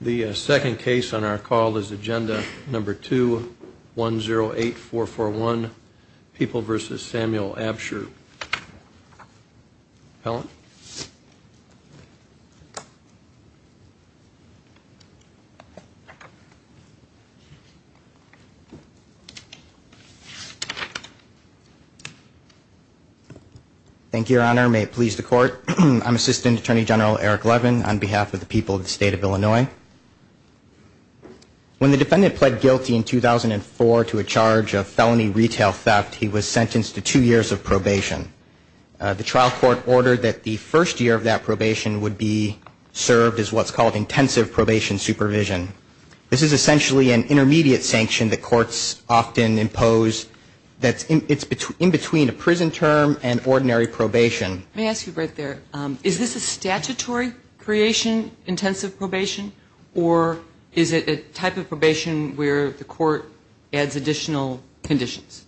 The second case on our call is agenda number two one zero eight four four one people versus Samuel Absher pellet thank you your honor may it please the court I'm assistant attorney general Eric Levin on behalf of the people of the state of Illinois when the defendant pled guilty in 2004 to a charge of felony retail theft he was sentenced to two years of probation the trial court ordered that the first year of that probation would be served as what's called intensive probation supervision this is essentially an intermediate sanction that courts often impose that it's between in between a prison term and ordinary probation let me ask you right there is this a statutory creation intensive probation or is it a type of probation where the court adds additional conditions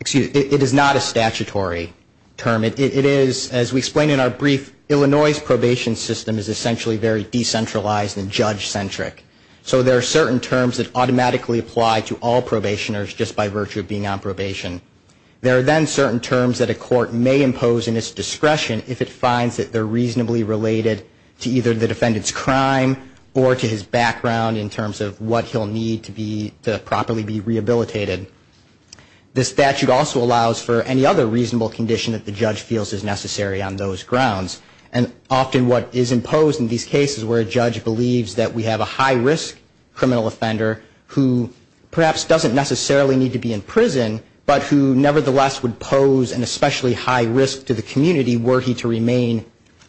excuse it is not a statutory term it is as we explained in our brief Illinois's probation system is essentially very decentralized and judge-centric so there are certain terms that automatically apply to all probationers just by virtue of being on discretion if it finds that they're reasonably related to either the defendant's crime or to his background in terms of what he'll need to be to properly be rehabilitated this statute also allows for any other reasonable condition that the judge feels is necessary on those grounds and often what is imposed in these cases where a judge believes that we have a high-risk criminal offender who perhaps doesn't necessarily need to be in prison but who nevertheless would pose an especially high risk to the community were he to remain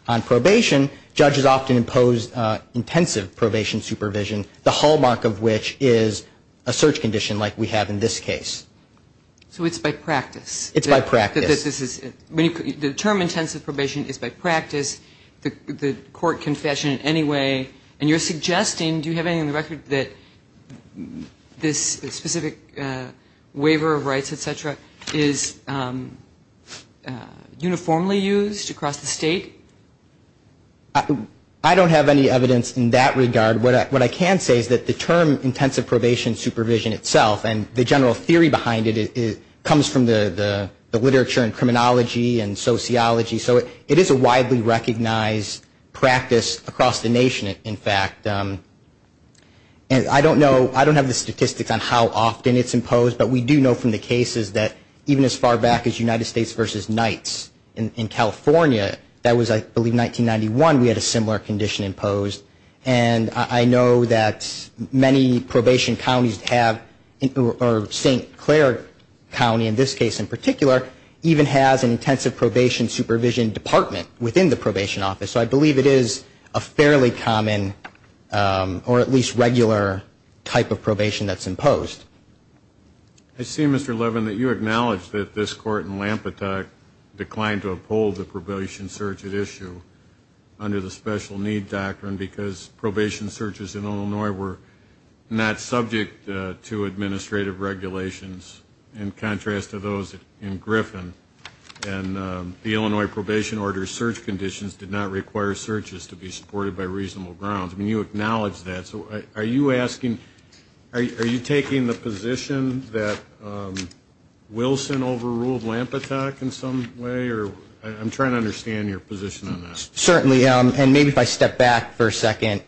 on probation judges often impose intensive probation supervision the hallmark of which is a search condition like we have in this case so it's by practice it's my practice this is when you determine intensive probation is by practice the court confession anyway and you're suggesting do you have any in the record that this specific waiver of rights etc is uniformly used across the state I don't have any evidence in that regard what I what I can say is that the term intensive probation supervision itself and the general theory behind it it comes from the literature and criminology and sociology so it it is a recognized practice across the nation in fact and I don't know I don't have the statistics on how often it's imposed but we do know from the cases that even as far back as United States versus Knights in California that was I believe 1991 we had a similar condition imposed and I know that many probation counties have in St. Clair County in this case in particular even has an intensive probation supervision department within the probation office so I believe it is a fairly common or at least regular type of probation that's imposed I see mr. Levin that you acknowledge that this court in Lampet declined to uphold the probation search at issue under the special need doctrine because probation searches in Illinois were not subject to administrative regulations in contrast to those in Griffin and the Illinois probation order search conditions did not require searches to be supported by reasonable grounds I mean you acknowledge that so are you asking are you taking the position that Wilson overruled lamp attack in some way or I'm trying to understand your position on that certainly and maybe if I step back for a second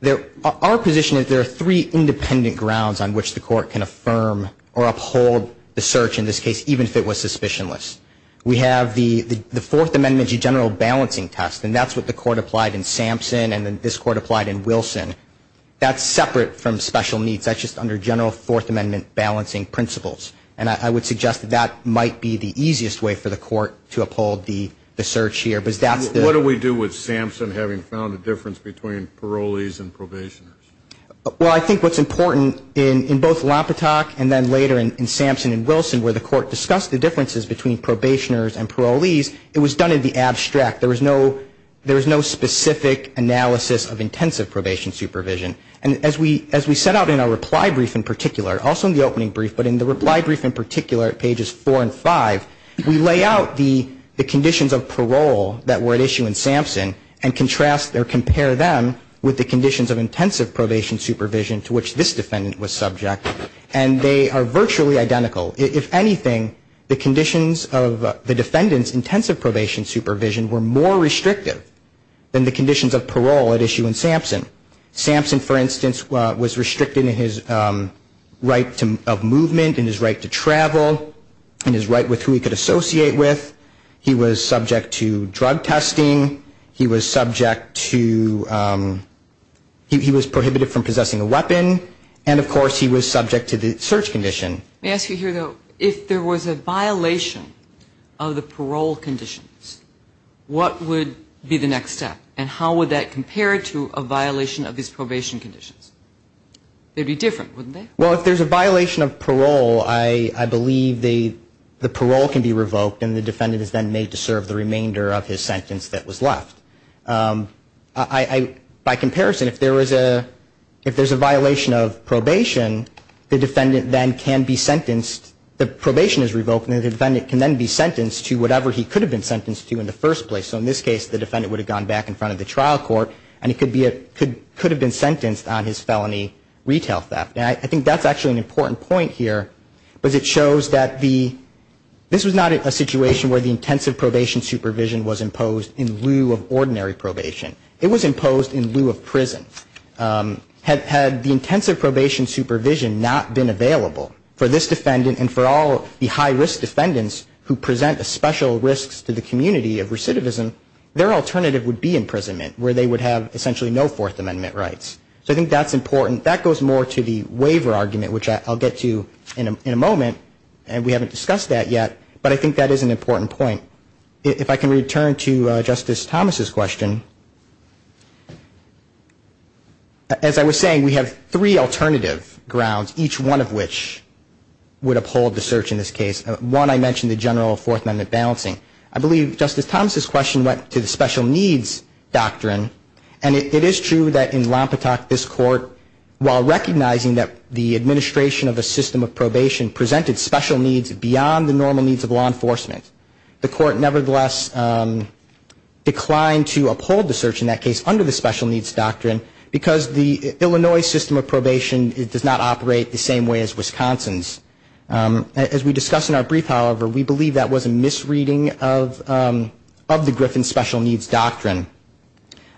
there our position is there are three independent grounds on which the court can affirm or uphold the search in this case even if it was suspicionless we have the the Fourth Amendment general balancing test and that's what the court applied in Sampson and then this court applied in Wilson that's separate from special needs I just under general Fourth Amendment balancing principles and I would suggest that might be the easiest way for the court to uphold the search here because that's what do we do with Sampson having found a difference between parolees and probation well I think what's important in in both Lampet talk and then later in Sampson and Wilson where the court discussed the differences between probationers and parolees it was done in the abstract there was no there was no specific analysis of intensive probation supervision and as we as we set out in our reply brief in particular also in the opening brief but in the reply brief in particular at pages four and five we lay out the the conditions of parole that were at issue in Sampson and contrast their compare them with the conditions of intensive probation supervision to which this defendant was subject and they are virtually identical if anything the conditions of the defendants intensive probation supervision were more restrictive than the conditions of parole at issue in Sampson Sampson for instance was restricted in his right to of movement and his right to travel and his right with who he could associate with he was subject to drug testing he was subject to he was prohibited from possessing a weapon and of course he was subject to the search condition may I ask you here though if there was a violation of the parole conditions what would be the next step and how would that compare to a violation of his probation conditions they'd be different wouldn't they well if there's a violation of parole I I believe they the parole can be revoked and the defendant is then made to serve the remainder of his sentence that was left I by comparison if there was a if there's a violation of probation the defendant then can be sentenced the probation is revoked and the defendant can then be sentenced to whatever he could have been sentenced to in the first place so in this case the defendant would have gone back in front of the trial court and it could be a could could have been sentenced on his felony retail theft I think that's actually an important point here but it shows that the this was not a situation where the intensive probation supervision was imposed in lieu of ordinary probation it was imposed in lieu of prison had had the intensive probation supervision not been available for this defendant and for all the high risk defendants who present a special risks to the community of recidivism their alternative would be imprisonment where they would have essentially no Fourth Amendment rights so I think that's important that goes more to the waiver argument which I'll get to in a in a moment and we haven't discussed that yet but I think that is an important point if I can return to Justice Thomas's question as I was saying we have three alternative grounds each one of which would uphold the search in this case one I mentioned the general Fourth Amendment balancing I believe Justice Thomas's question went to the special needs doctrine and it is true that in Lompatak this court while recognizing that the administration of a system of probation presented special needs beyond the normal needs of law enforcement the court nevertheless declined to uphold the search in that case under the special needs doctrine because the Illinois system of probation does not operate the same way as Wisconsin's as we discussed in our brief however we believe that was a misreading of the Griffin special needs doctrine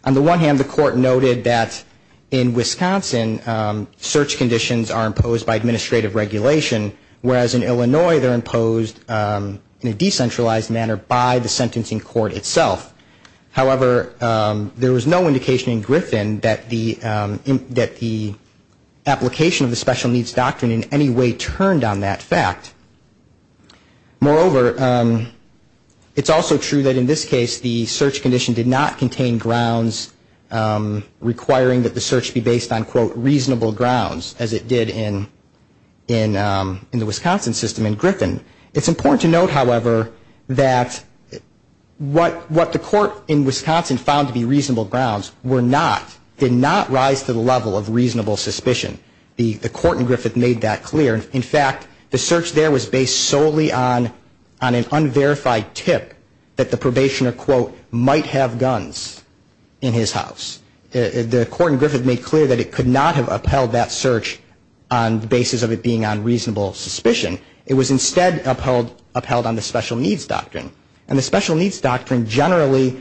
on the one hand the court noted that in Wisconsin search conditions are imposed by administrative regulation whereas in Illinois they're imposed in a decentralized manner by the sentencing court itself however there was no indication in Griffin that the that the application of the special needs doctrine in any way turned on that fact moreover it's also true that in this case the search condition did not contain grounds requiring that the search be based on quote reasonable grounds as it did in in in the Wisconsin system in Griffin it's important to note however that what what the court in Wisconsin found to be reasonable grounds were not did not rise to the level of reasonable suspicion the the court in Griffith made that clear in fact the search there was based solely on on an unverified tip that the probationer quote might have guns in his house the court in Griffith made clear that it could not have upheld that search on the basis of it being on reasonable suspicion it was instead upheld upheld on the special needs doctrine and the special needs doctrine generally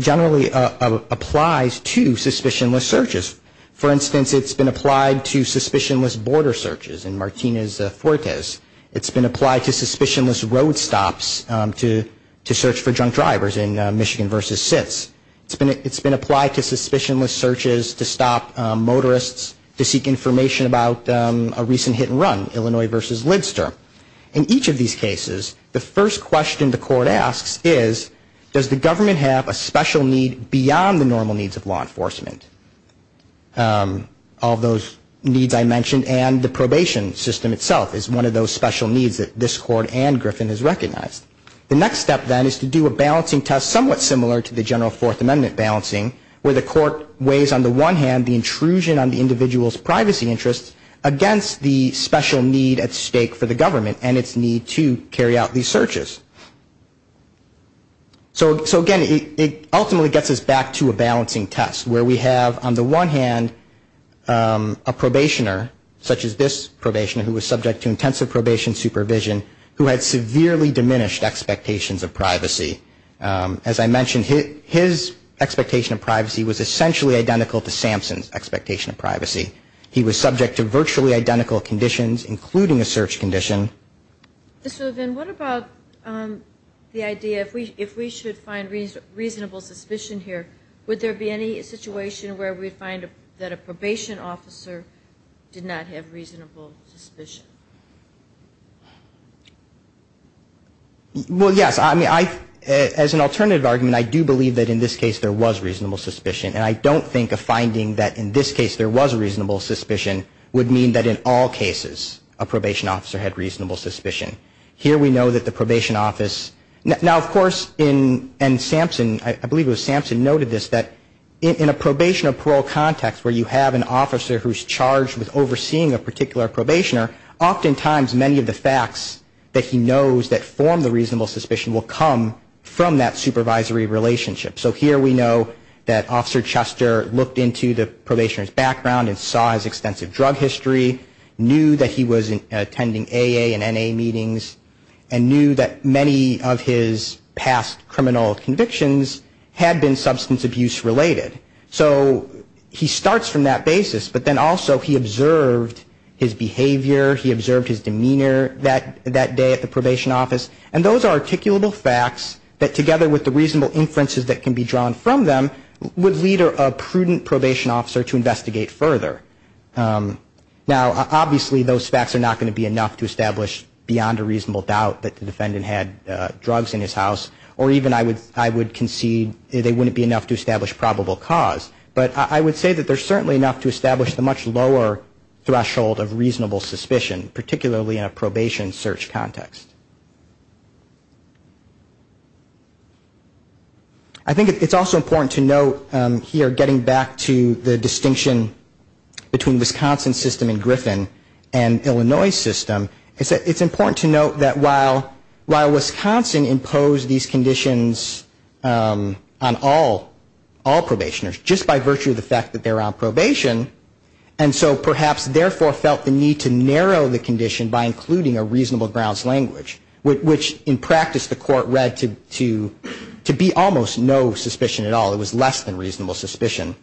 generally applies to suspicionless searches for instance it's been applied to suspicionless border searches in Martinez-Fuertes it's been applied to suspicionless road stops to to search for drunk drivers in Michigan versus SITS it's been it's been applied to suspicionless searches to stop motorists to seek information about a recent hit and run Illinois versus Lidster in each of these cases the first question the court asks is does the government have a special need beyond the normal needs of law enforcement all those needs I mentioned and the probation system itself is one of those special needs that this court and Griffin has recognized the next step then is to do a balancing test somewhat similar to the general fourth amendment balancing where the court weighs on the one hand the intrusion on the individual's privacy interests against the special need at stake for the government and its need to carry out these searches so again it ultimately gets us back to a balancing test where we have on the one hand a probationer such as this probationer who was subject to intensive probation supervision who had severely diminished expectations of privacy as I mentioned his expectation of privacy was essentially identical to Sampson's expectation of privacy he was subject to virtually identical conditions including a search condition so then what about the idea if we if we should find reasonable suspicion here would there be any situation where we find that a probation officer did not have reasonable suspicion well yes I mean I as an alternative argument I do believe that in this case there was reasonable suspicion and I don't think a finding that in this case there was a reasonable suspicion would mean that in all cases a probation officer had reasonable suspicion here we know that the probation office now of course in and Sampson I believe it was Sampson noted this that in a probation of parole context where you have an officer who's charged with overseeing a particular probationer often times many of the facts that he knows that form the reasonable suspicion will come from that supervisory relationship so here we know that Officer Chester looked into the probationer's background and saw his extensive drug history knew that he was attending AA and NA meetings and knew that many of his past criminal convictions had been substance abuse related so he starts from that basis but then also he observed his behavior he observed his demeanor that that day at the probation office and those are articulable facts that together with the reasonable inferences that can be drawn from them would lead a prudent probation officer to investigate further now obviously those facts are not going to be enough to establish beyond a reasonable doubt that the defendant had drugs in his house or even I would I would concede they wouldn't be enough to establish probable cause but I would say that there's certainly enough to establish the much lower threshold of reasonable suspicion particularly in a I think it's also important to note here getting back to the distinction between Wisconsin's system in Griffin and Illinois's system it's important to note that while while Wisconsin imposed these conditions on all all probationers just by virtue of the fact that they're on probation and so perhaps therefore felt the need to narrow the condition by including a reasonable grounds language which in practice the court read to to be almost no suspicion at all it was less than reasonable suspicion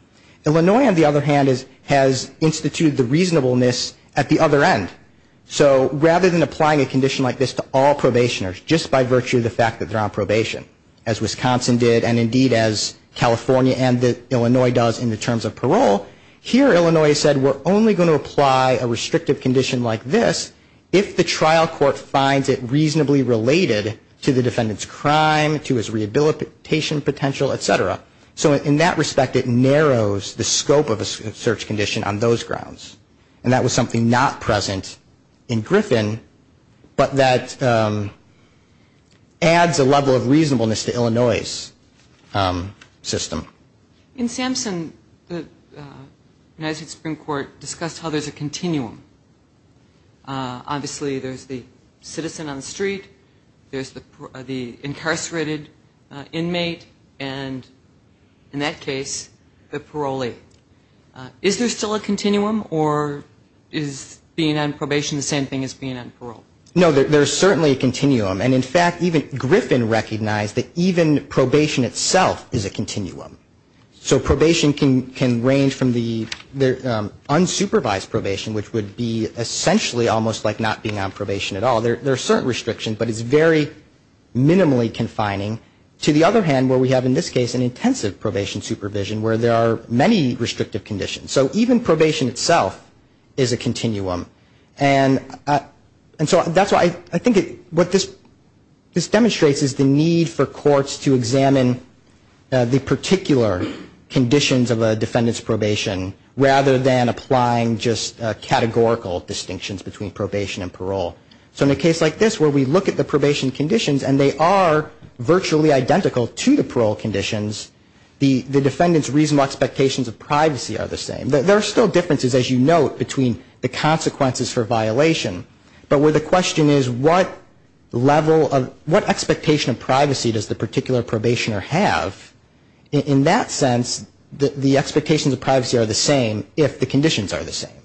Illinois on the other hand is has instituted the reasonableness at the other end so rather than applying a condition like this to all probationers just by virtue of the fact that they're on probation as Wisconsin did and indeed as California and Illinois does in the terms of parole here Illinois said we're only going to apply a restrictive condition like this if the trial court finds it reasonably related to the defendant's crime to his rehabilitation potential etc. So in that respect it narrows the scope of a search condition on those grounds and that was something not present in Griffin but that adds a level of reasonableness to Illinois's system. In Sampson the United States Supreme Court discussed how there's a continuum obviously there's the citizen on the street there's the the incarcerated inmate and in that case the parolee. Is there still a continuum or is being on probation the same thing as being on parole? No there's certainly a continuum and in fact even probation itself is a continuum. So probation can range from the unsupervised probation which would be essentially almost like not being on probation at all there are certain restrictions but it's very minimally confining. To the other hand where we have in this case an intensive probation supervision where there are many restrictive conditions so even probation itself is a continuum and and so that's why I think what this demonstrates is the need for courts to examine the particular conditions of a defendant's probation rather than applying just categorical distinctions between probation and parole. So in a case like this where we look at the probation conditions and they are virtually identical to the parole conditions the defendant's reasonable expectations of probation but where the question is what level of what expectation of privacy does the particular probationer have in that sense the expectations of privacy are the same if the conditions are the same.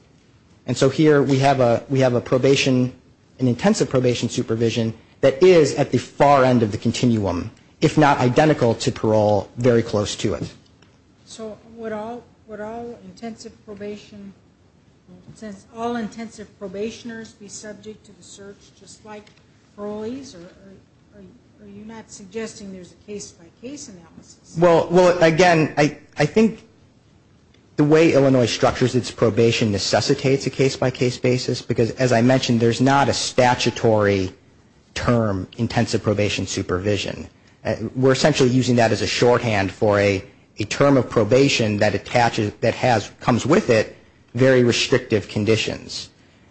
And so here we have a we have a probation an intensive probation supervision that is at the far end of the continuum if not identical to parole very close to it. So would all intensive probation since all intensive probationers be subject to the search just like parolees are you not suggesting there's a case by case analysis? Well again I think the way Illinois structures its probation necessitates a case by case basis because as I mentioned there's not a statutory term intensive probation supervision. We're essentially using that as a shorthand for a term of probation that comes with it very restrictive conditions.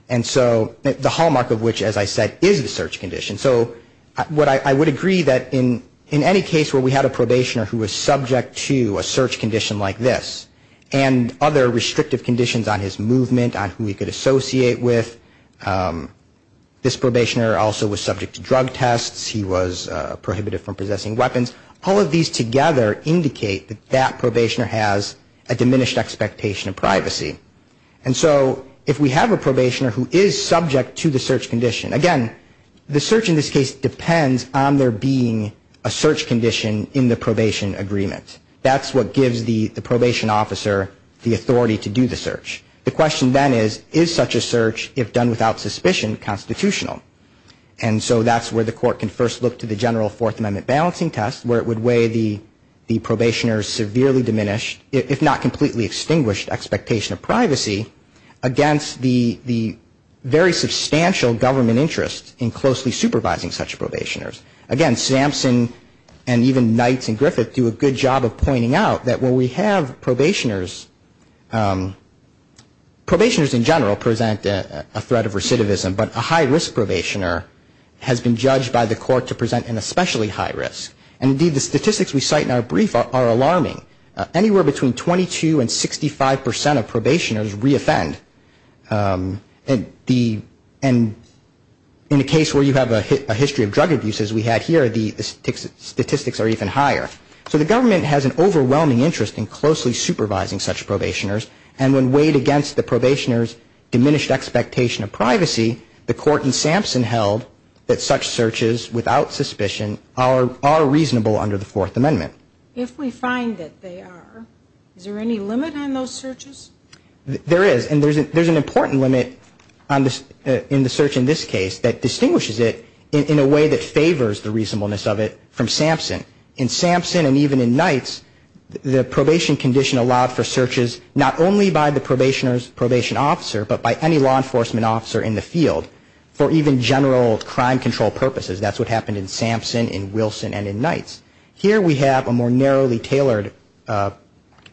And so the hallmark of which as I said is the search condition. So I would agree that in any case where we had a probationer who was subject to a search condition like this and other restrictive conditions on his movement on who he could possess, he was prohibited from possessing weapons, all of these together indicate that that probationer has a diminished expectation of privacy. And so if we have a probationer who is subject to the search condition, again the search in this case depends on there being a search condition in the probation agreement. That's what gives the probation officer the authority to do the search. The question then is is such a search, if done without suspicion, constitutional? And so that's where the court can first look to the general Fourth Amendment balancing test where it would weigh the probationer's severely diminished, if not completely extinguished, expectation of privacy against the very substantial government interest in closely supervising such probationers. Again, Sampson and even Knights and Griffith do a good job of presenting a threat of recidivism, but a high risk probationer has been judged by the court to present an especially high risk. And indeed the statistics we cite in our brief are alarming. Anywhere between 22 and 65 percent of probationers re-offend. And in a case where you have a history of drug abuses, we had here the statistics are even higher. So the government has an overwhelming interest in closely supervising such probationers. And when weighed against the probationer's diminished expectation of privacy, the court in Sampson held that such searches without suspicion are reasonable under the Fourth Amendment. If we find that they are, is there any limit on those searches? There is. And there's an important limit in the search in this case that distinguishes it in a way that favors the reasonableness of it from Sampson. In Sampson and even in Knights, the probation condition allowed for searches not only by the probationer's probation officer, but by any law enforcement officer in the field for even general crime control purposes. That's what happened in Sampson, in Wilson and in Knights. Here we have a more narrowly tailored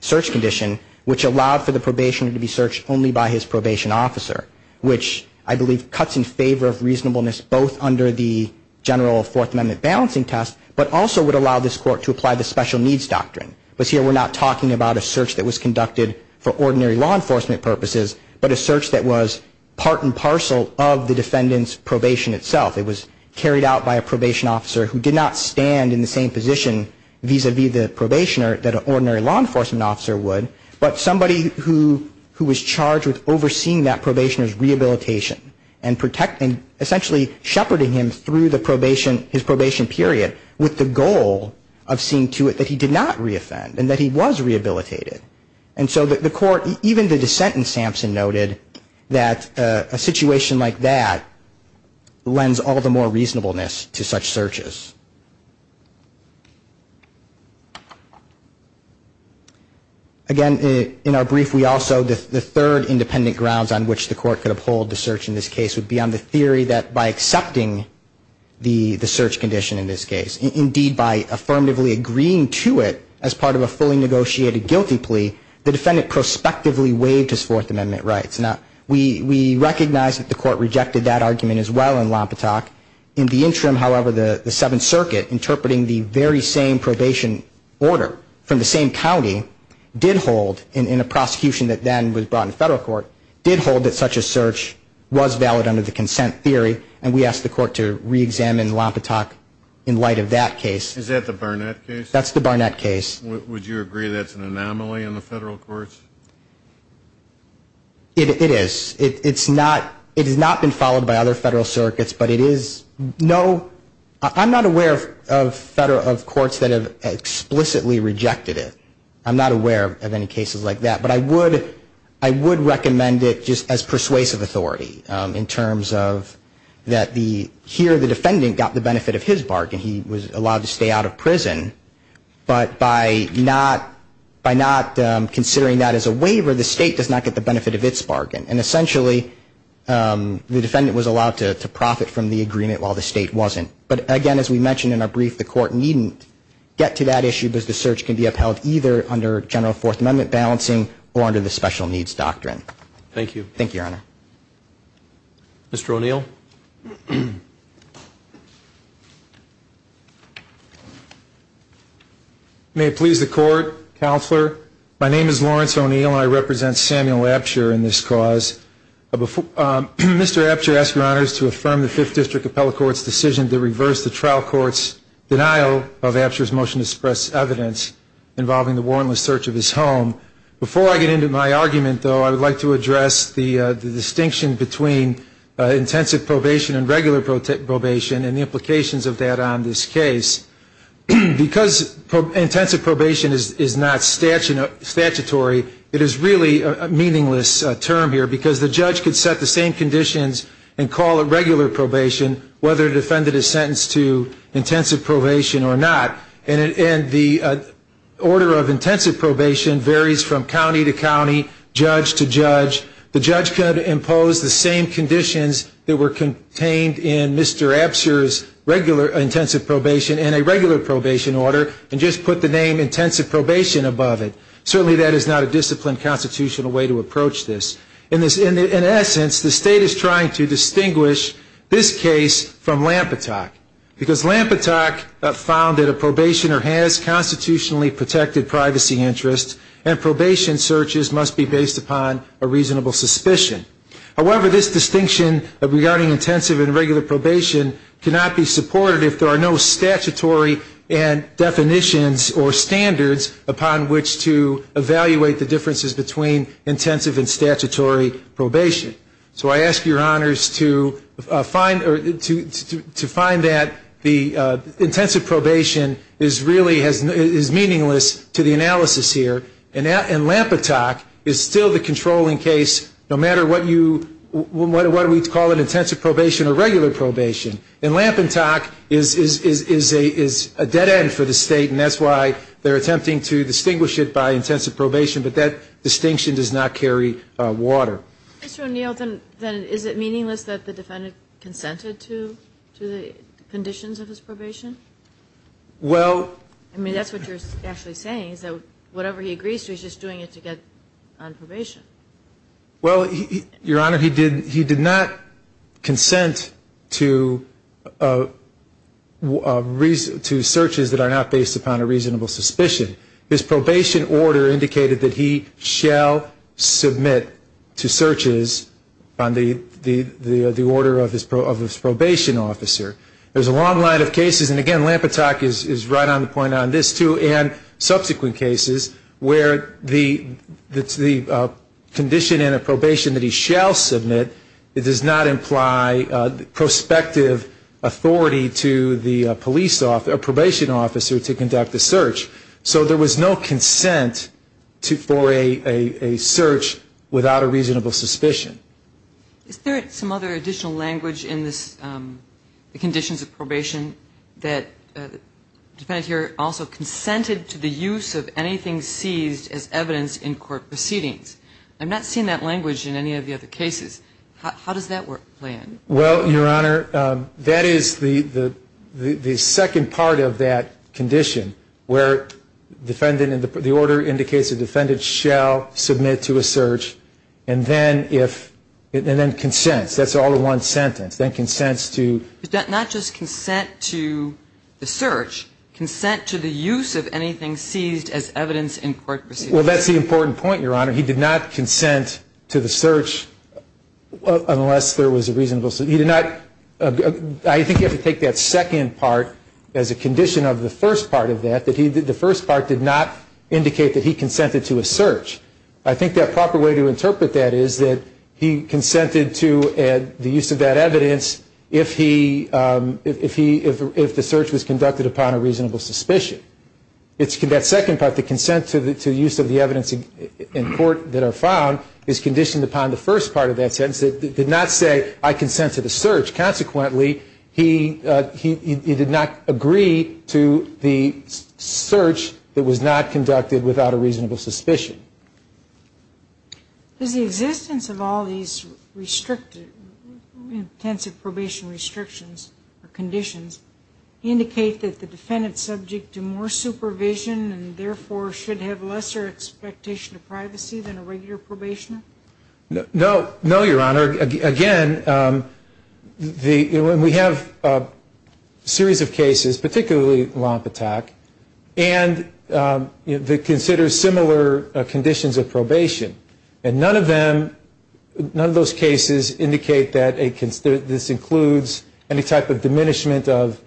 search condition which allowed for the probationer to be searched only by his probation officer, which I believe cuts in favor of reasonableness both under the general Fourth Amendment balancing test, but also would allow this court to apply the special needs doctrine. Because here we're not talking about a search that was conducted for ordinary law enforcement purposes, but a search that was part and parcel of the defendant's probation itself. It was carried out by a probation officer who did not stand in the same position vis-a-vis the probationer's rehabilitation and essentially shepherding him through his probation period with the goal of seeing to it that he did not re-offend and that he was rehabilitated. And so the court, even the dissent in Sampson, noted that a situation like that lends all the more reasonableness to such searches. Again, in our brief, we also, the third independent grounds on which the court could uphold the search in this case would be on the theory that by accepting the search condition in this case, indeed by affirmatively agreeing to it as part of a fully negotiated guilty plea, the defendant prospectively waived his Fourth Amendment rights. Now, we recognize that the court rejected that argument as well in Lompatak. In the interim, however, the Seventh Circuit, interpreting the very same probation order from the same county, did hold, in a prosecution that then was brought in federal court, did hold that such a search was valid under the consent theory. And we asked the court to reexamine Lompatak in light of that case. Is that the Barnett case? That's the Barnett case. Would you agree that's an anomaly in the federal courts? It is. It's not, it has not been followed by other federal circuits, but it is no, I'm not aware of federal, of courts that have explicitly rejected it. I'm not aware of any cases like that, but I would, I would recommend it just as persuasive authority in terms of that the, here the defendant got the benefit of his bargain. He was allowed to stay out of prison, but by not, by not considering that as a waiver, the state does not get the benefit of its bargain. And essentially, the defendant was allowed to profit from the agreement while the state wasn't. But again, as we mentioned in our brief, the court needn't get to that issue, because the search can be upheld either under general Fourth Amendment balancing or under the special needs doctrine. Thank you. Thank you, Your Honor. Mr. O'Neill. May it please the Court, Counselor. My name is Lawrence O'Neill and I represent Samuel Apsher in this cause. Mr. Apsher, I ask your honors to affirm the Fifth District Appellate Court's decision to reverse the trial court's denial of Apsher's motion to suppress evidence involving the warrantless search of his home. Before I get into my argument, though, I would like to address the distinction between intensive probation and regular probation and the implications of that on this case. Because intensive probation is not statutory, it is really a meaningless term here, because the judge could set the same conditions and call it regular probation, whether the defendant is sentenced to intensive probation or not. And the order of intensive probation varies from county to county, judge to judge. The judge could impose the same conditions that were contained in Mr. Apsher's intensive probation and a regular probation order and just put the name intensive probation above it. Certainly that is not a disciplined constitutional way to approach this. In essence, the State is trying to distinguish this case from Lampetock, because Lampetock found that a probationer has constitutionally protected privacy interests and probation searches must be based upon a reasonable suspicion. However, this distinction regarding intensive and regular probation cannot be supported if there are no statutory definitions or standards upon which to evaluate the differences between intensive and statutory probation. So I ask your honors to find that the intensive probation is meaningless to the analysis here, and Lampetock is still the controlling case, no matter what we call it, intensive probation or regular probation, and Lampetock is a dead end for the State, and that's why they're attempting to distinguish it by intensive probation, but that distinction does not carry water. Mr. O'Neill, then is it meaningless that the defendant consented to the conditions of his probation? Well — I mean, that's what you're actually saying, is that whatever he agrees to, he's just doing it to get on probation. Well, your honor, he did not consent to searches that are not based upon a reasonable suspicion. His probation order indicated that he shall submit to searches on the order of his probation officer. There's a long line of cases, and again, Lampetock is right on the point on this, too, and subsequent cases where the condition in a probation that he shall submit, it does not imply prospective authority to the police officer, probation officer, to conduct the search. So there was no consent for a search without a reasonable suspicion. Is there some other additional language in this, the conditions of probation, that the defendant here also consented to the use of anything seized as evidence in court proceedings? I'm not seeing that language in any of the other cases. How does that play in? Well, your honor, that is the second part of that condition, where the order indicates the defendant shall submit to a search, and then consents. That's all in one sentence. Not just consent to the search, consent to the use of anything seized as evidence in court proceedings. Well, that's the important point, your honor. He did not consent to the search unless there was a reasonable suspicion. I think you have to take that second part as a condition of the first part of that, that the first part did not indicate that he consented to a search. I think the proper way to interpret that is that he consented to the use of that evidence, if the search was conducted upon a reasonable suspicion. That second part, the consent to the use of the evidence in court that are found, is conditioned upon the first part of that sentence. It did not say, I consent to the search. Consequently, he did not agree to the search that was not conducted without a reasonable suspicion. Does the existence of all these intensive probation restrictions or conditions indicate that the defendant is subject to more supervision, and therefore should have lesser expectation of privacy than a regular probationer? No, your honor. Again, we have a series of cases, particularly Lompatak, and they consider similar conditions of probation. None of those cases indicate that this includes any type of diminishment of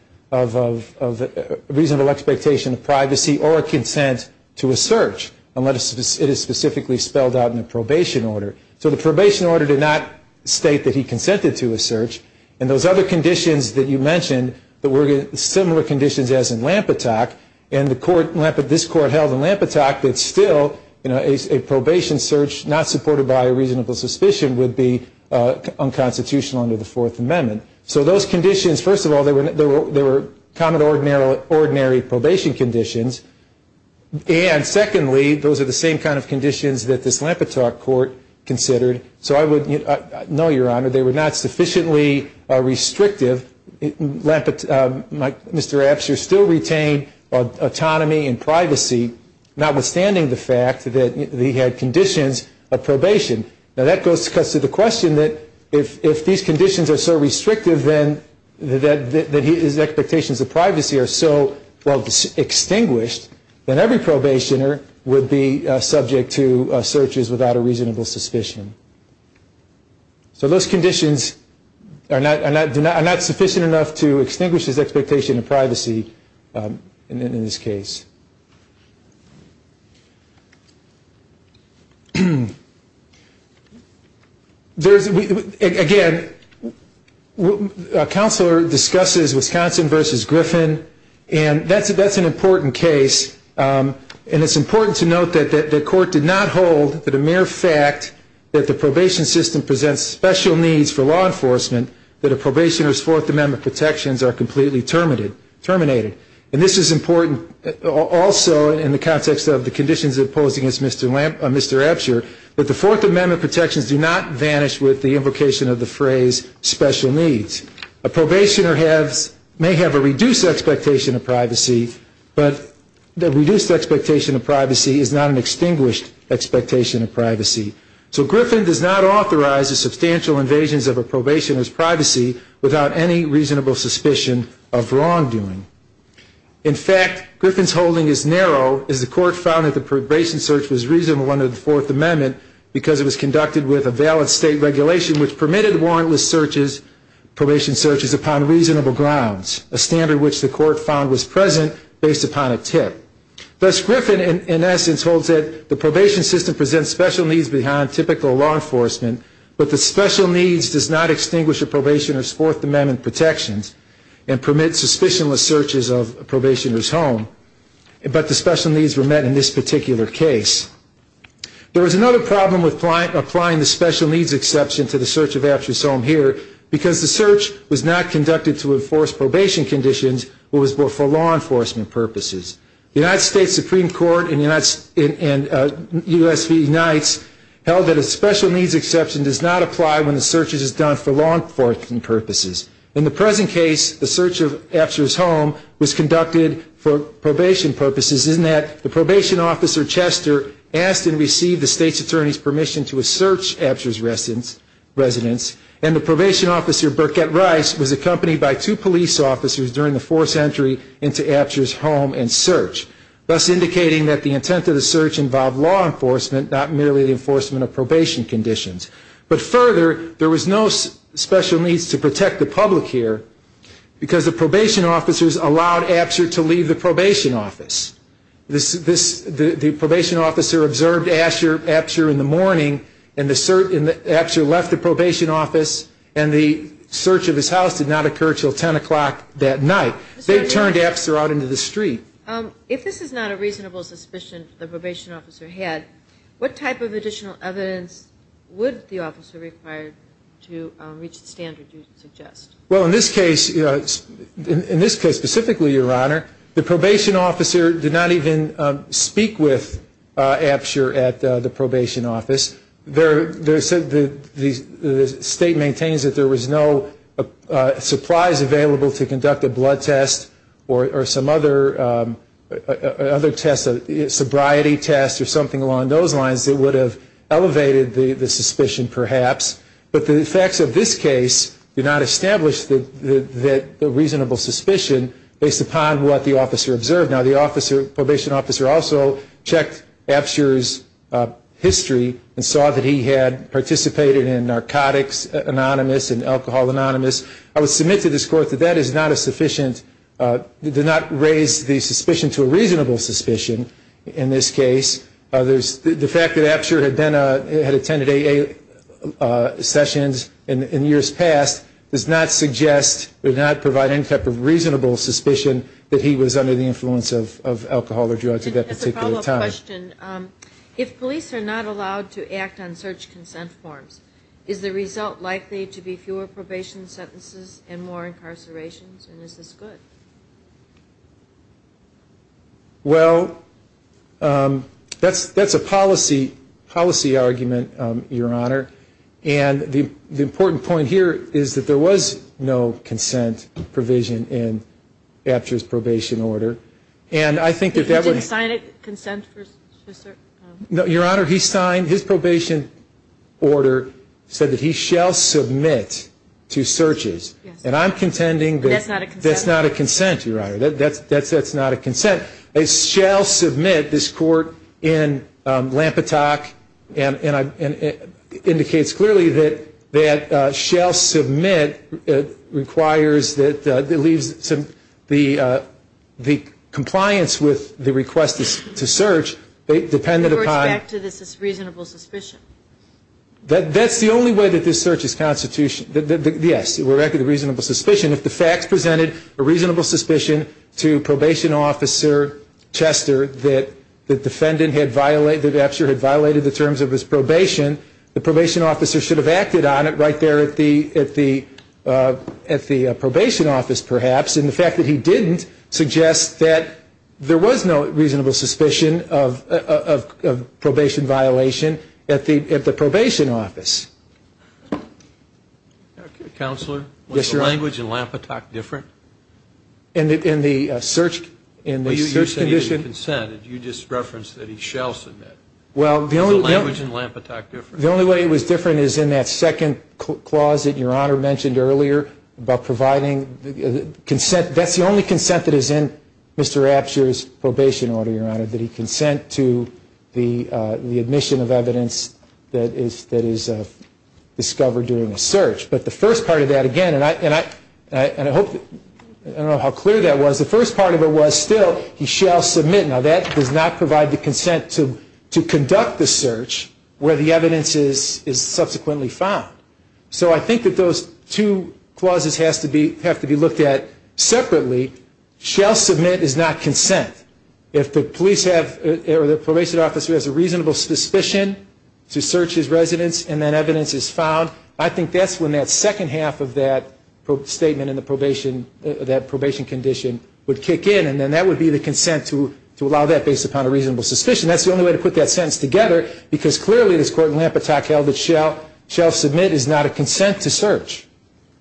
reasonable expectation of privacy or a consent to a search, unless it is specifically spelled out in the probation order. So the probation order did not state that he consented to a search, and those other conditions that you mentioned, there were similar conditions as in Lompatak, and this court held in Lompatak that still, a probation search not supported by a reasonable suspicion would be unconstitutional under the Fourth Amendment. So those conditions, first of all, they were common, ordinary probation conditions, and secondly, those are the same kind of conditions that this Lompatak court considered. So I would, no, your honor, they were not sufficiently restrictive. Mr. Absher still retained autonomy and privacy, notwithstanding the fact that he had conditions of probation. Now that cuts to the question that if these conditions are so restrictive that his expectations of privacy are so well extinguished, then every probationer would be subject to searches without a reasonable suspicion. So those conditions are not sufficient enough to extinguish his expectation of privacy in this case. There's, again, a counselor discusses Wisconsin v. Griffin, and that's an important case, and it's important to note that the court did not hold that a mere fact that the probation system presents special needs for law enforcement, that a probationer's Fourth Amendment protections are completely terminated. And this is important also in the context of the conditions imposed against Mr. Absher, that the Fourth Amendment protections do not vanish with the invocation of the phrase special needs. A probationer may have a reduced expectation of privacy, but the reduced expectation of privacy is not an extinguished expectation of privacy. So Griffin does not authorize the substantial invasions of a probationer's privacy without any reasonable suspicion of wrongdoing. In fact, Griffin's holding is narrow, as the court found that the probation search was reasonable under the Fourth Amendment because it was conducted with a valid state regulation which permitted warrantless probation searches upon reasonable grounds, a standard which the court found was present based upon a tip. Thus, Griffin, in essence, holds that the probation system presents special needs beyond typical law enforcement, but the special needs does not extinguish a probationer's Fourth Amendment protections and permit suspicionless searches of a probationer's home, but the special needs were met in this particular case. There was another problem with applying the special needs exception to the search of Absher's home here, because the search was not conducted to enforce probation conditions, but was for law enforcement purposes. The United States Supreme Court and U.S. v. Unites held that a special needs exception does not apply when the search is done for law enforcement purposes. In the present case, the search of Absher's home was conducted for probation purposes in that the probation officer, Chester, asked and received the state's attorney's permission to search Absher's residence, and the probation officer, Burkett Rice, was accompanied by two police officers during the forced entry into Absher's home and search, thus indicating that the intent of the search involved law enforcement, not merely the enforcement of probation conditions. But further, there was no special needs to protect the public here, because the probation officers allowed Absher to leave the probation office. The probation officer observed Absher in the morning, and Absher left the probation office, and the search of his house did not occur until 10 o'clock that night. They turned Absher out into the street. If this is not a reasonable suspicion the probation officer had, what type of additional evidence would the officer require to reach the standard you suggest? Well, in this case, specifically, Your Honor, the probation officer did not even speak with Absher at the probation office. The state maintains that there was no supplies available to conduct a blood test, or some other test, a sobriety test, or something along those lines, that would have elevated the suspicion, perhaps. But the facts of this case do not establish the reasonable suspicion based upon what the officer observed. Now, the probation officer also checked Absher's history and saw that he had participated in narcotics anonymous and alcohol anonymous. I would submit to this Court that that is not a sufficient, did not raise the suspicion to a reasonable suspicion in this case. The fact that Absher had attended AA sessions in years past does not suggest, does not provide any type of reasonable suspicion that he was under the influence of alcohol or drugs at that particular time. I have a follow-up question. If police are not allowed to act on search consent forms, is the result likely to be fewer probation sentences and more incarcerations, and is this good? Well, that's a policy argument, Your Honor. And the important point here is that there was no consent provision in Absher's probation order. And I think that that would He didn't sign a consent? No, Your Honor. He signed his probation order, said that he shall submit to searches. And I'm contending that That's not a consent? That's not a consent, Your Honor. That's not a consent. They shall submit, this Court, in Lampetock, and it indicates clearly that that shall submit requires that, it leaves the compliance with the request to search dependent upon The Court's back to this reasonable suspicion. That's the only way that this search is constitutional. Yes, we're back to the reasonable suspicion. If the facts presented a reasonable suspicion to Probation Officer Chester that the defendant had violated, that Absher had violated the terms of his probation, the Probation Officer should have acted on it right there at the probation office, perhaps. And the fact that he didn't suggests that there was no reasonable suspicion of probation violation at the probation office. Counselor? Yes, Your Honor. Was the language in Lampetock different? In the search condition? You said it was a consent. You just referenced that he shall submit. Was the language in Lampetock different? The only way it was different is in that second clause that Your Honor mentioned earlier about providing consent. That's the only consent that is in Mr. Absher's probation order, Your Honor, that he consent to the admission of evidence that is discovered during a search. But the first part of that, again, and I hope, I don't know how clear that was, but the first part of it was still he shall submit. Now that does not provide the consent to conduct the search where the evidence is subsequently found. So I think that those two clauses have to be looked at separately. Shall submit is not consent. If the police have, or the Probation Officer has a reasonable suspicion to search his residence and that evidence is found, I think that's when that second half of that statement in the probation, that probation condition would kick in and then that would be the consent to allow that based upon a reasonable suspicion. That's the only way to put that sentence together because clearly this court in Lampetock held that shall submit is not a consent to search.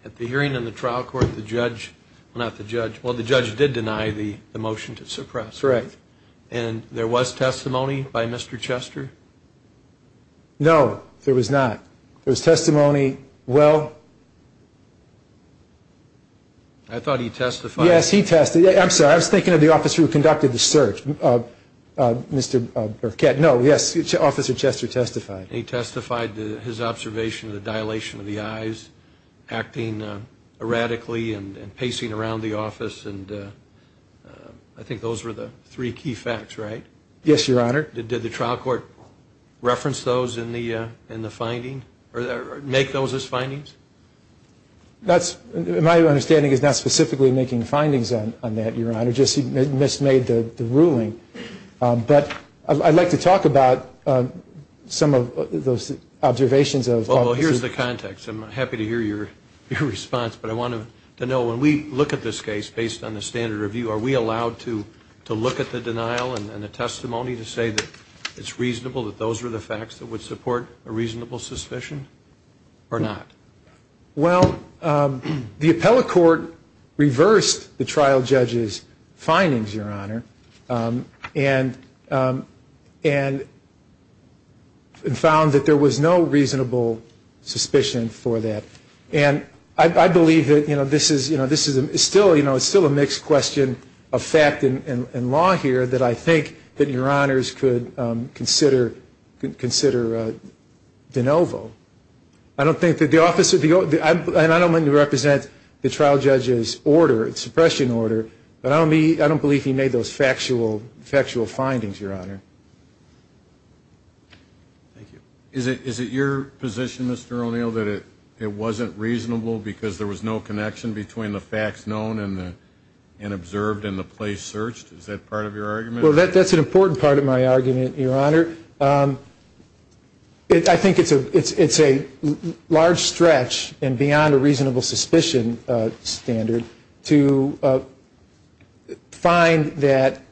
At the hearing in the trial court, the judge, well not the judge, well the judge did deny the motion to suppress. Correct. And there was testimony by Mr. Chester? No, there was not. There was testimony, well? I thought he testified. Yes, he testified. I'm sorry, I was thinking of the officer who conducted the search, Mr. Burkett. No, yes, Officer Chester testified. He testified to his observation of the dilation of the eyes, acting erratically and pacing around the office and I think those were the three key facts, right? Did the trial court reference those in the finding? Or make those as findings? That's, my understanding is not specifically making findings on that, Your Honor, just mis-made the ruling. But I'd like to talk about some of those observations of... Well, here's the context. I'm happy to hear your response, but I wanted to know when we look at this case based on the standard review, are we allowed to look at the denial and the testimony to say that it's reasonable that those were the facts that would support a reasonable suspicion? Or not? Well, the appellate court reversed the trial judge's findings, Your Honor, and found that there was no reasonable suspicion for that. And I believe that this is still a mixed question of fact and law here that I think that Your Honors could consider de novo. I don't think that the office... And I don't mean to represent the trial judge's order, suppression order, but I don't believe he made those factual findings, Your Honor. Thank you. Is it your position, Mr. O'Neill, that it wasn't reasonable because there was no connection between the facts known and observed and the place searched? Is that part of your argument? Well, that's an important part of my argument, Your Honor. I think it's a large stretch and beyond a reasonable suspicion standard to find that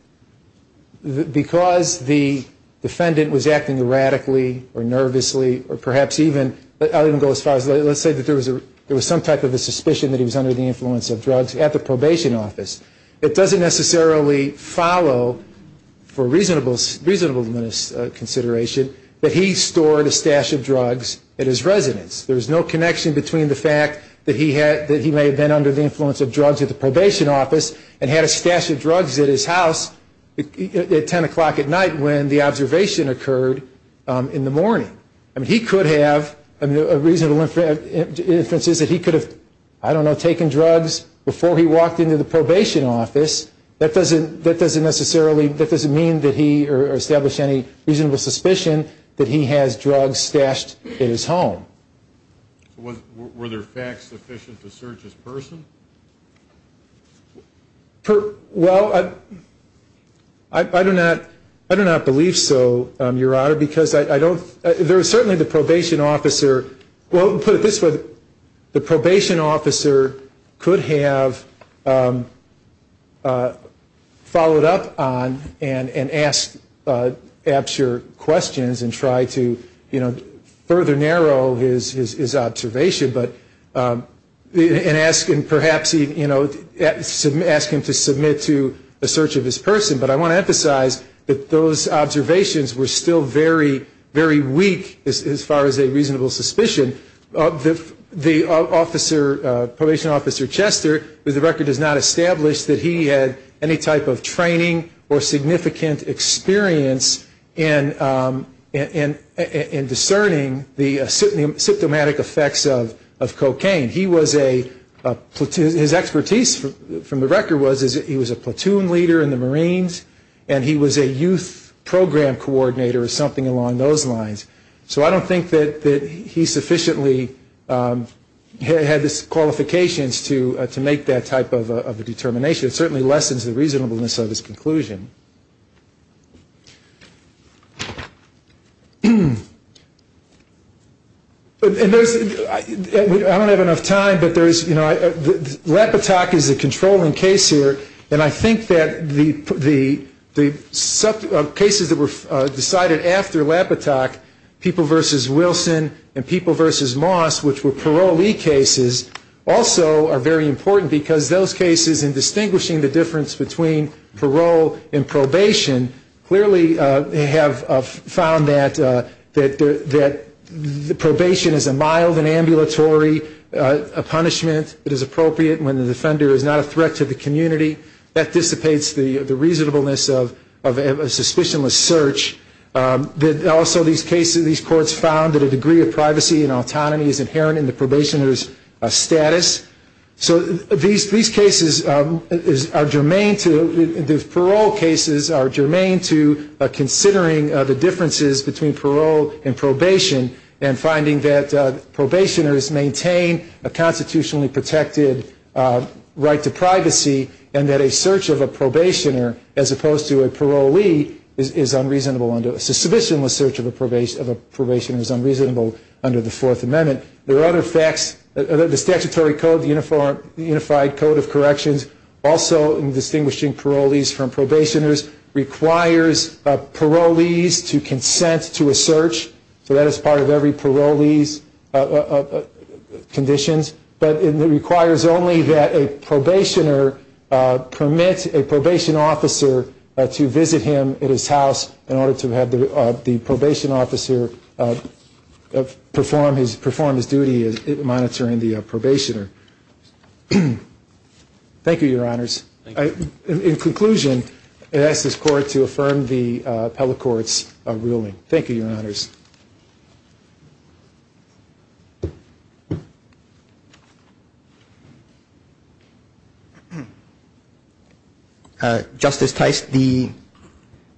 because the defendant was acting erratically or nervously or perhaps even... I'll even go as far as... Let's say that there was some type of a suspicion that he was under the influence of drugs at the probation office. It doesn't necessarily follow for reasonable consideration that he stored a stash of drugs at his residence. There's no connection between the fact that he may have been under the influence of drugs at the probation office and had a stash of drugs at his house at 10 o'clock at night when the observation occurred in the morning. He could have... A reasonable inference is that he could have, I don't know, taken drugs before he walked into the probation office. That doesn't necessarily... That doesn't mean that he... or establish any reasonable suspicion that he has drugs stashed in his home. Were there facts sufficient to search his person? Well, I do not believe so, Your Honor, because I don't... There is certainly the probation officer... Well, to put it this way, the probation officer could have followed up on and asked Apsher questions and tried to further narrow his observation and asked him perhaps... asked him to submit to the search of his person. But I want to emphasize that those observations were still very weak as far as a reasonable suspicion. The probation officer, Chester, with the record does not establish that he had any type of training or significant experience in discerning the symptomatic effects of cocaine. He was a... His expertise from the record was he was a platoon leader in the Marines and he was a youth program coordinator or something along those lines. So I don't think that he sufficiently had the qualifications to make that type of a determination. It certainly lessens the reasonableness of his conclusion. And there's... I don't have enough time, but there's... Lapitoque is a controlling case here and I think that the cases that were decided after Lapitoque versus Wilson and People versus Moss, which were parolee cases, also are very important because those cases in distinguishing the difference between parole and probation clearly have found that the probation is a mild and ambulatory punishment that is appropriate when the offender is not a threat to the community. That dissipates the reasonableness of a suspicionless search. Also these cases, these courts found that a degree of privacy and autonomy is inherent in the probationer's status. So these cases are germane to... These parole cases are germane to considering the differences between parole and probation and finding that probationers maintain a constitutionally protected right to privacy and that a search of a probationer as opposed to a parolee is unreasonable under... A suspicionless search of a probationer is unreasonable under the Fourth Amendment. There are other facts. The statutory code, the Unified Code of Corrections, also in distinguishing parolees from probationers, requires parolees to consent to a search. So that is part of every parolee's conditions. But it requires only that a probationer permit a probation officer to visit him at his house in order to have the probation officer perform his duty in monitoring the probationer. Thank you, Your Honors. In conclusion, I ask this Court to affirm the appellate court's ruling. Thank you, Your Honors. Justice Tice, the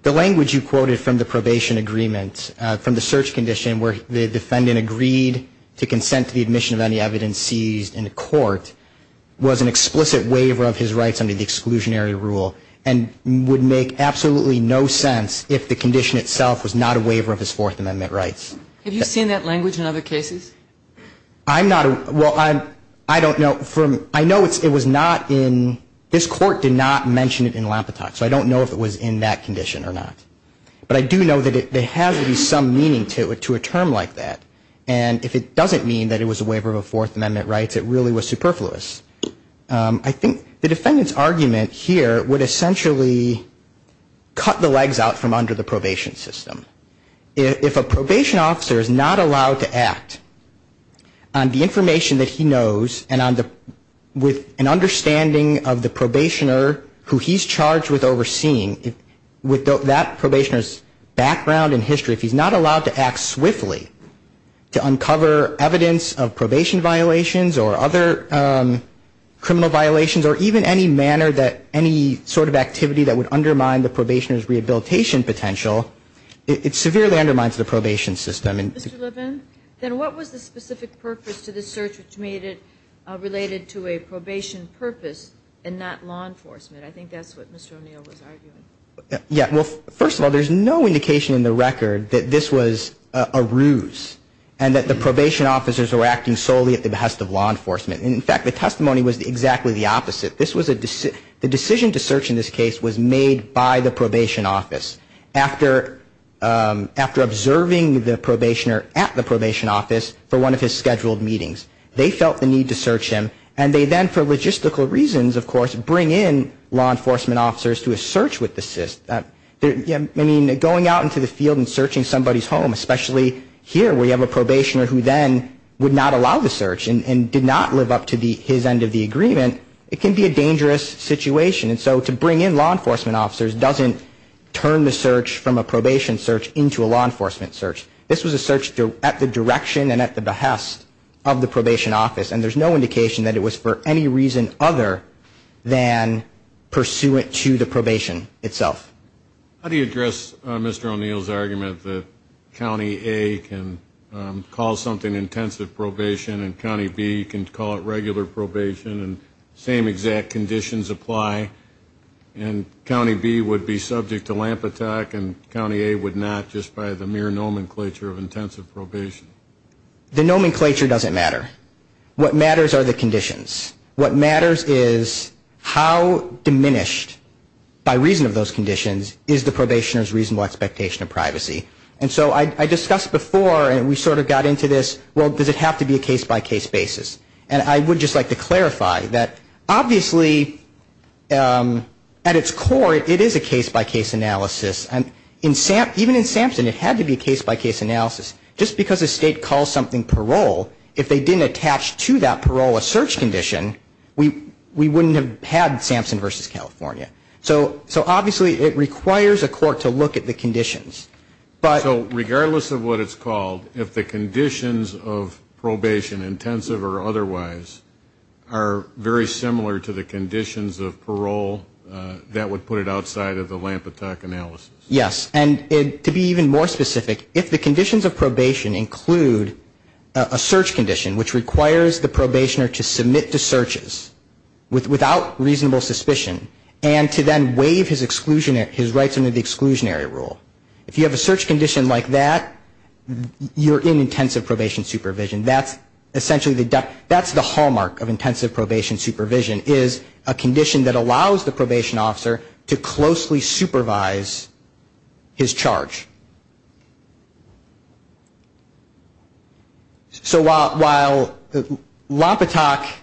language you quoted from the probation agreement, from the search condition where the defendant agreed to consent to the admission of any evidence seized in court, was an explicit waiver of his rights under the exclusionary rule and would make absolutely no sense if the condition itself was not a waiver of his Fourth Amendment rights. Have you seen that language in other cases? I'm not, well, I don't know. I know it was not in, this Court did not mention it in Lampetot, so I don't know if it was in that condition or not. But I do know that there has to be some meaning to a term like that. And if it doesn't mean that it was a waiver of Fourth Amendment rights, it really was superfluous. I think the defendant's argument here would essentially cut the legs out from under the probation system. If a probation officer is not allowed to act on the information that he knows and with an understanding of the probationer who he's charged with overseeing, with that probationer's background and history, if he's not allowed to act swiftly to uncover evidence of probation violations or other criminal violations or even any manner that any sort of activity that would undermine the probationer's rehabilitation potential, it severely undermines the probation system. Mr. Levin, then what was the specific purpose to this search which made it related to a probation purpose and not law enforcement? I think that's what Mr. O'Neill was arguing. Yeah, well, first of all, there's no indication in the record that this was a ruse and that the probation officers were acting solely at the behest of law enforcement. In fact, the testimony was exactly the opposite. The decision to search in this case was made by the probation office. After observing the probationer at the probation office for one of his scheduled meetings, they felt the need to search him and they then for logistical reasons, of course, bring in law enforcement officers to a search with the system. I mean, going out into the field and searching somebody's home, especially here where you have a probationer who then would not allow the search and did not live up to his end of the agreement, it can be a dangerous situation. And so to bring in law enforcement officers doesn't turn the search from a probation search into a law enforcement search. This was a search at the direction and at the behest of the probation office and there's no indication that it was for any reason other than pursuant to the probation itself. How do you address Mr. O'Neill's argument that County A can call something intensive probation and County B can call it regular probation and same exact conditions apply and County B would be subject to lamp attack and County A would not just by the mere nomenclature of intensive probation? The nomenclature doesn't matter. What matters are the conditions. What matters is how diminished by reason of those conditions is the probationer's reasonable expectation of privacy. And so I discussed before and we sort of got into this, well, does it have to be a case-by-case basis? And I would just like to clarify that obviously at its core, it is a case-by-case analysis. And even in Sampson it had to be a case-by-case analysis. Just because a state calls something parole, if they didn't attach to that parole a search condition, we wouldn't have had Sampson versus California. So obviously it requires a court to look at the conditions. So regardless of what it's called, if the conditions of probation intensive or otherwise are very similar to the conditions of parole, that would put it outside of the lamp attack analysis. Yes. And to be even more specific, if the conditions of probation include a search condition which requires the probationer to submit to searches without reasonable suspicion and to then waive his rights under the exclusionary rule, if you have a search condition like that, you're in intensive probation supervision. That's essentially the hallmark of intensive probation supervision is a condition that allows the probation officer to closely supervise his charge. So while lamp attack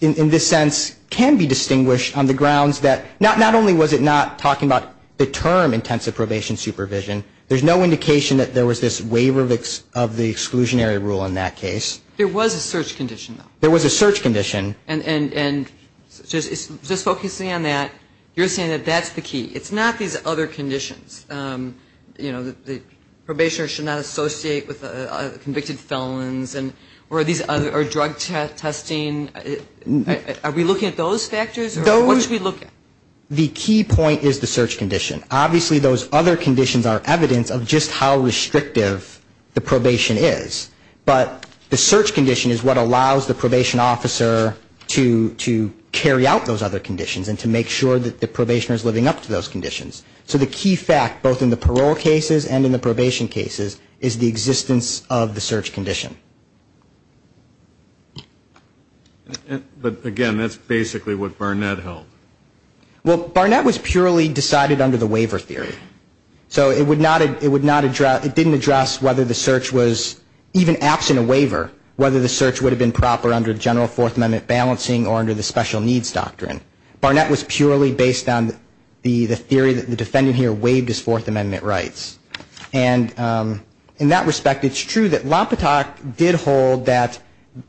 in this sense can be distinguished on the grounds that not only was it not talking about the term intensive probation supervision, there's no indication that there was this waiver of the exclusionary rule in that case. There was a search condition, though. There was a search condition. And just focusing on that, you're saying that that's the key. It's not these other conditions. You know, the probationer should not associate with convicted felons or drug testing. Are we looking at those factors? What should we look at? The key point is the search condition. Obviously those other conditions are evidence of just how restrictive the probation is. But the search condition is what allows the probation officer to carry out those other conditions and to make sure that the probationer is living up to those conditions. So the key fact, both in the parole cases and in the probation cases, is the existence of the search condition. But, again, that's basically what Barnett held. Well, Barnett was purely decided under the waiver theory. So it would not address, it didn't address whether the search was even absent a waiver, whether the search would have been proper under general Fourth Amendment balancing or under the special needs doctrine. Barnett was purely based on the theory that the defendant here waived his Fourth Amendment rights. And in that respect, it's true that Lopatak did hold that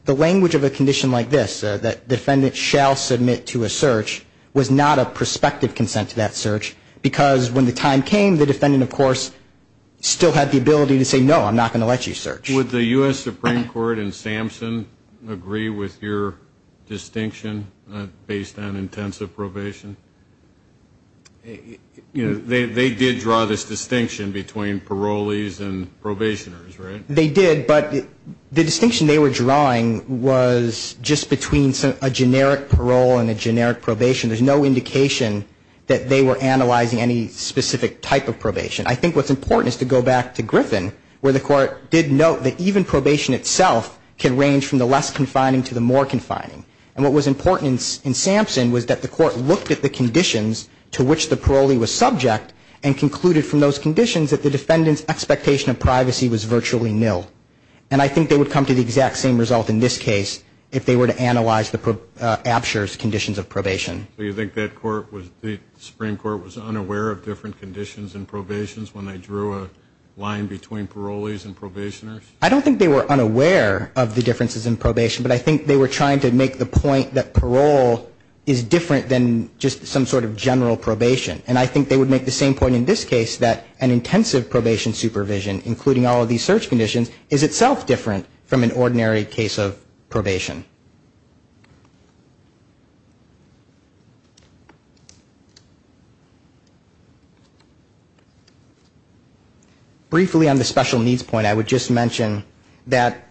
the language of a condition like this, that defendant shall submit to a search, was not a prospective consent to that search, because when the time came, the defendant, of course, still had the ability to say, no, I'm not going to let you search. Would the U.S. Supreme Court and Samson agree with your distinction based on intensive probation? They did draw this distinction between parolees and probationers, right? They did, but the distinction they were drawing was just between a generic parole and a generic probation. There's no indication that they were analyzing any specific type of probation. I think what's important is to go back to Griffin, where the Court did note that even probation itself can range from the less confining to the more confining. And what was important in Samson was that the Court looked at the conditions to which the parolee was subject and concluded from those conditions that the defendant's expectation of privacy was virtually nil. And I think they would come to the exact same result in this case if they were to analyze the absure's conditions of probation. So you think that Supreme Court was unaware of different conditions in probation when they drew a line between parolees and probationers? I don't think they were unaware of the differences in probation, but I think they were trying to make the point that parole is different than just some sort of general probation. And I think they would make the same point in this case that an intensive probation supervision, including all of these search conditions, is itself different from an ordinary case of probation. Briefly on the special needs point, I would just mention that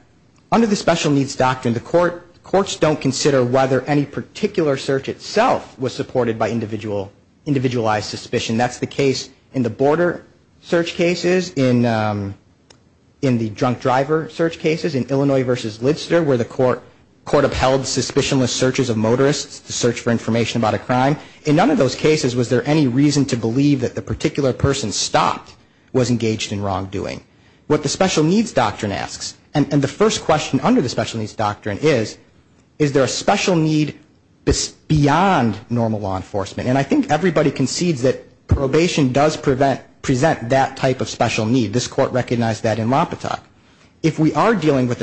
under the special needs doctrine, the courts don't consider whether any particular search itself was supported by individualized suspicion. That's the case in the border search cases, in the drunk driver search cases, in Illinois v. Lidster, where the court upheld suspicionless searches of motorists to search for information about a crime. In none of those cases was there any reason to believe that the particular person stopped was engaged in wrongdoing. What the special needs doctrine asks, and the first question under the special needs doctrine is, is there a special need beyond normal law enforcement? And I think everybody concedes that probation does present that type of special need. If there is a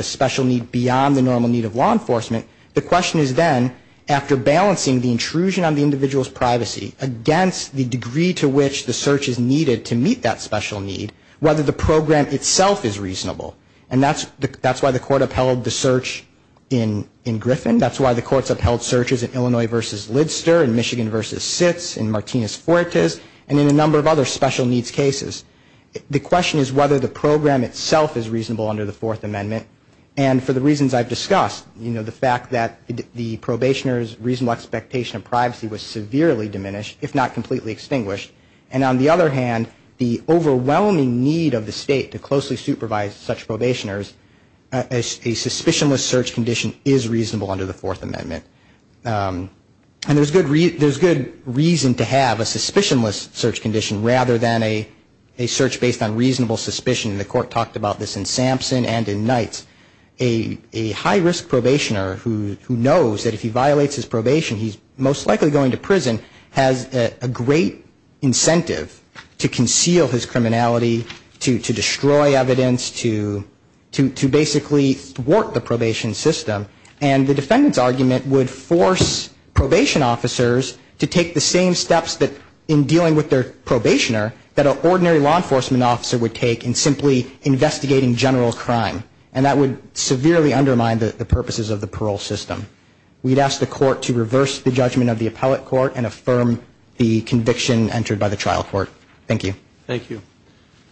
special need of law enforcement, the question is then, after balancing the intrusion on the individual's privacy against the degree to which the search is needed to meet that special need, whether the program itself is reasonable. And that's why the court upheld the search in Griffin. That's why the courts upheld searches in Illinois v. Lidster, in Michigan v. Sitz, in Martinez-Fuertes, across the fact that the probationer's reasonable expectation of privacy was severely diminished, if not completely extinguished. And on the other hand, the overwhelming need of the state to closely supervise such probationers, a suspicionless search condition is reasonable under the Fourth Amendment. And there's good reason to have a suspicionless search condition rather than a search based on reasonable suspicion. The court talked about this in Sampson and in Knights. A high-risk probationer who knows that if he violates his probation, he's most likely going to prison, has a great incentive to conceal his criminality, to destroy evidence, to basically thwart the probation system. And the defendant's argument would force probation officers to take the same steps in dealing with their probationer that an ordinary law enforcement officer would take in simply investigating a general crime. And that would severely undermine the purposes of the parole system. We'd ask the court to reverse the judgment of the appellate court and affirm the conviction entered by the trial court. Thank you. Thank you.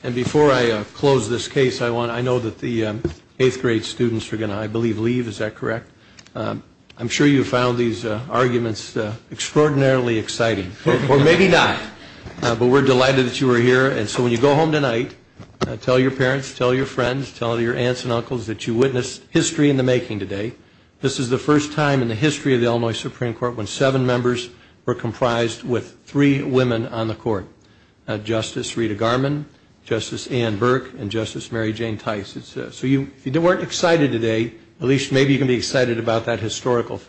And before I close this case, I know that the eighth grade students are going to, I believe, leave. Is that correct? I'm sure you found these arguments extraordinarily exciting. Or maybe not. But we're delighted that you are here. And so when you go home tonight, tell your parents, tell your friends, tell your aunts and uncles that you witnessed history in the making today. This is the first time in the history of the Illinois Supreme Court when seven members were comprised with three women on the court. Justice Rita Garman, Justice Ann Burke, and Justice Mary Jane Tice. So if you weren't excited today, at least maybe you can be excited when you go home tonight. Thank you. Thank you.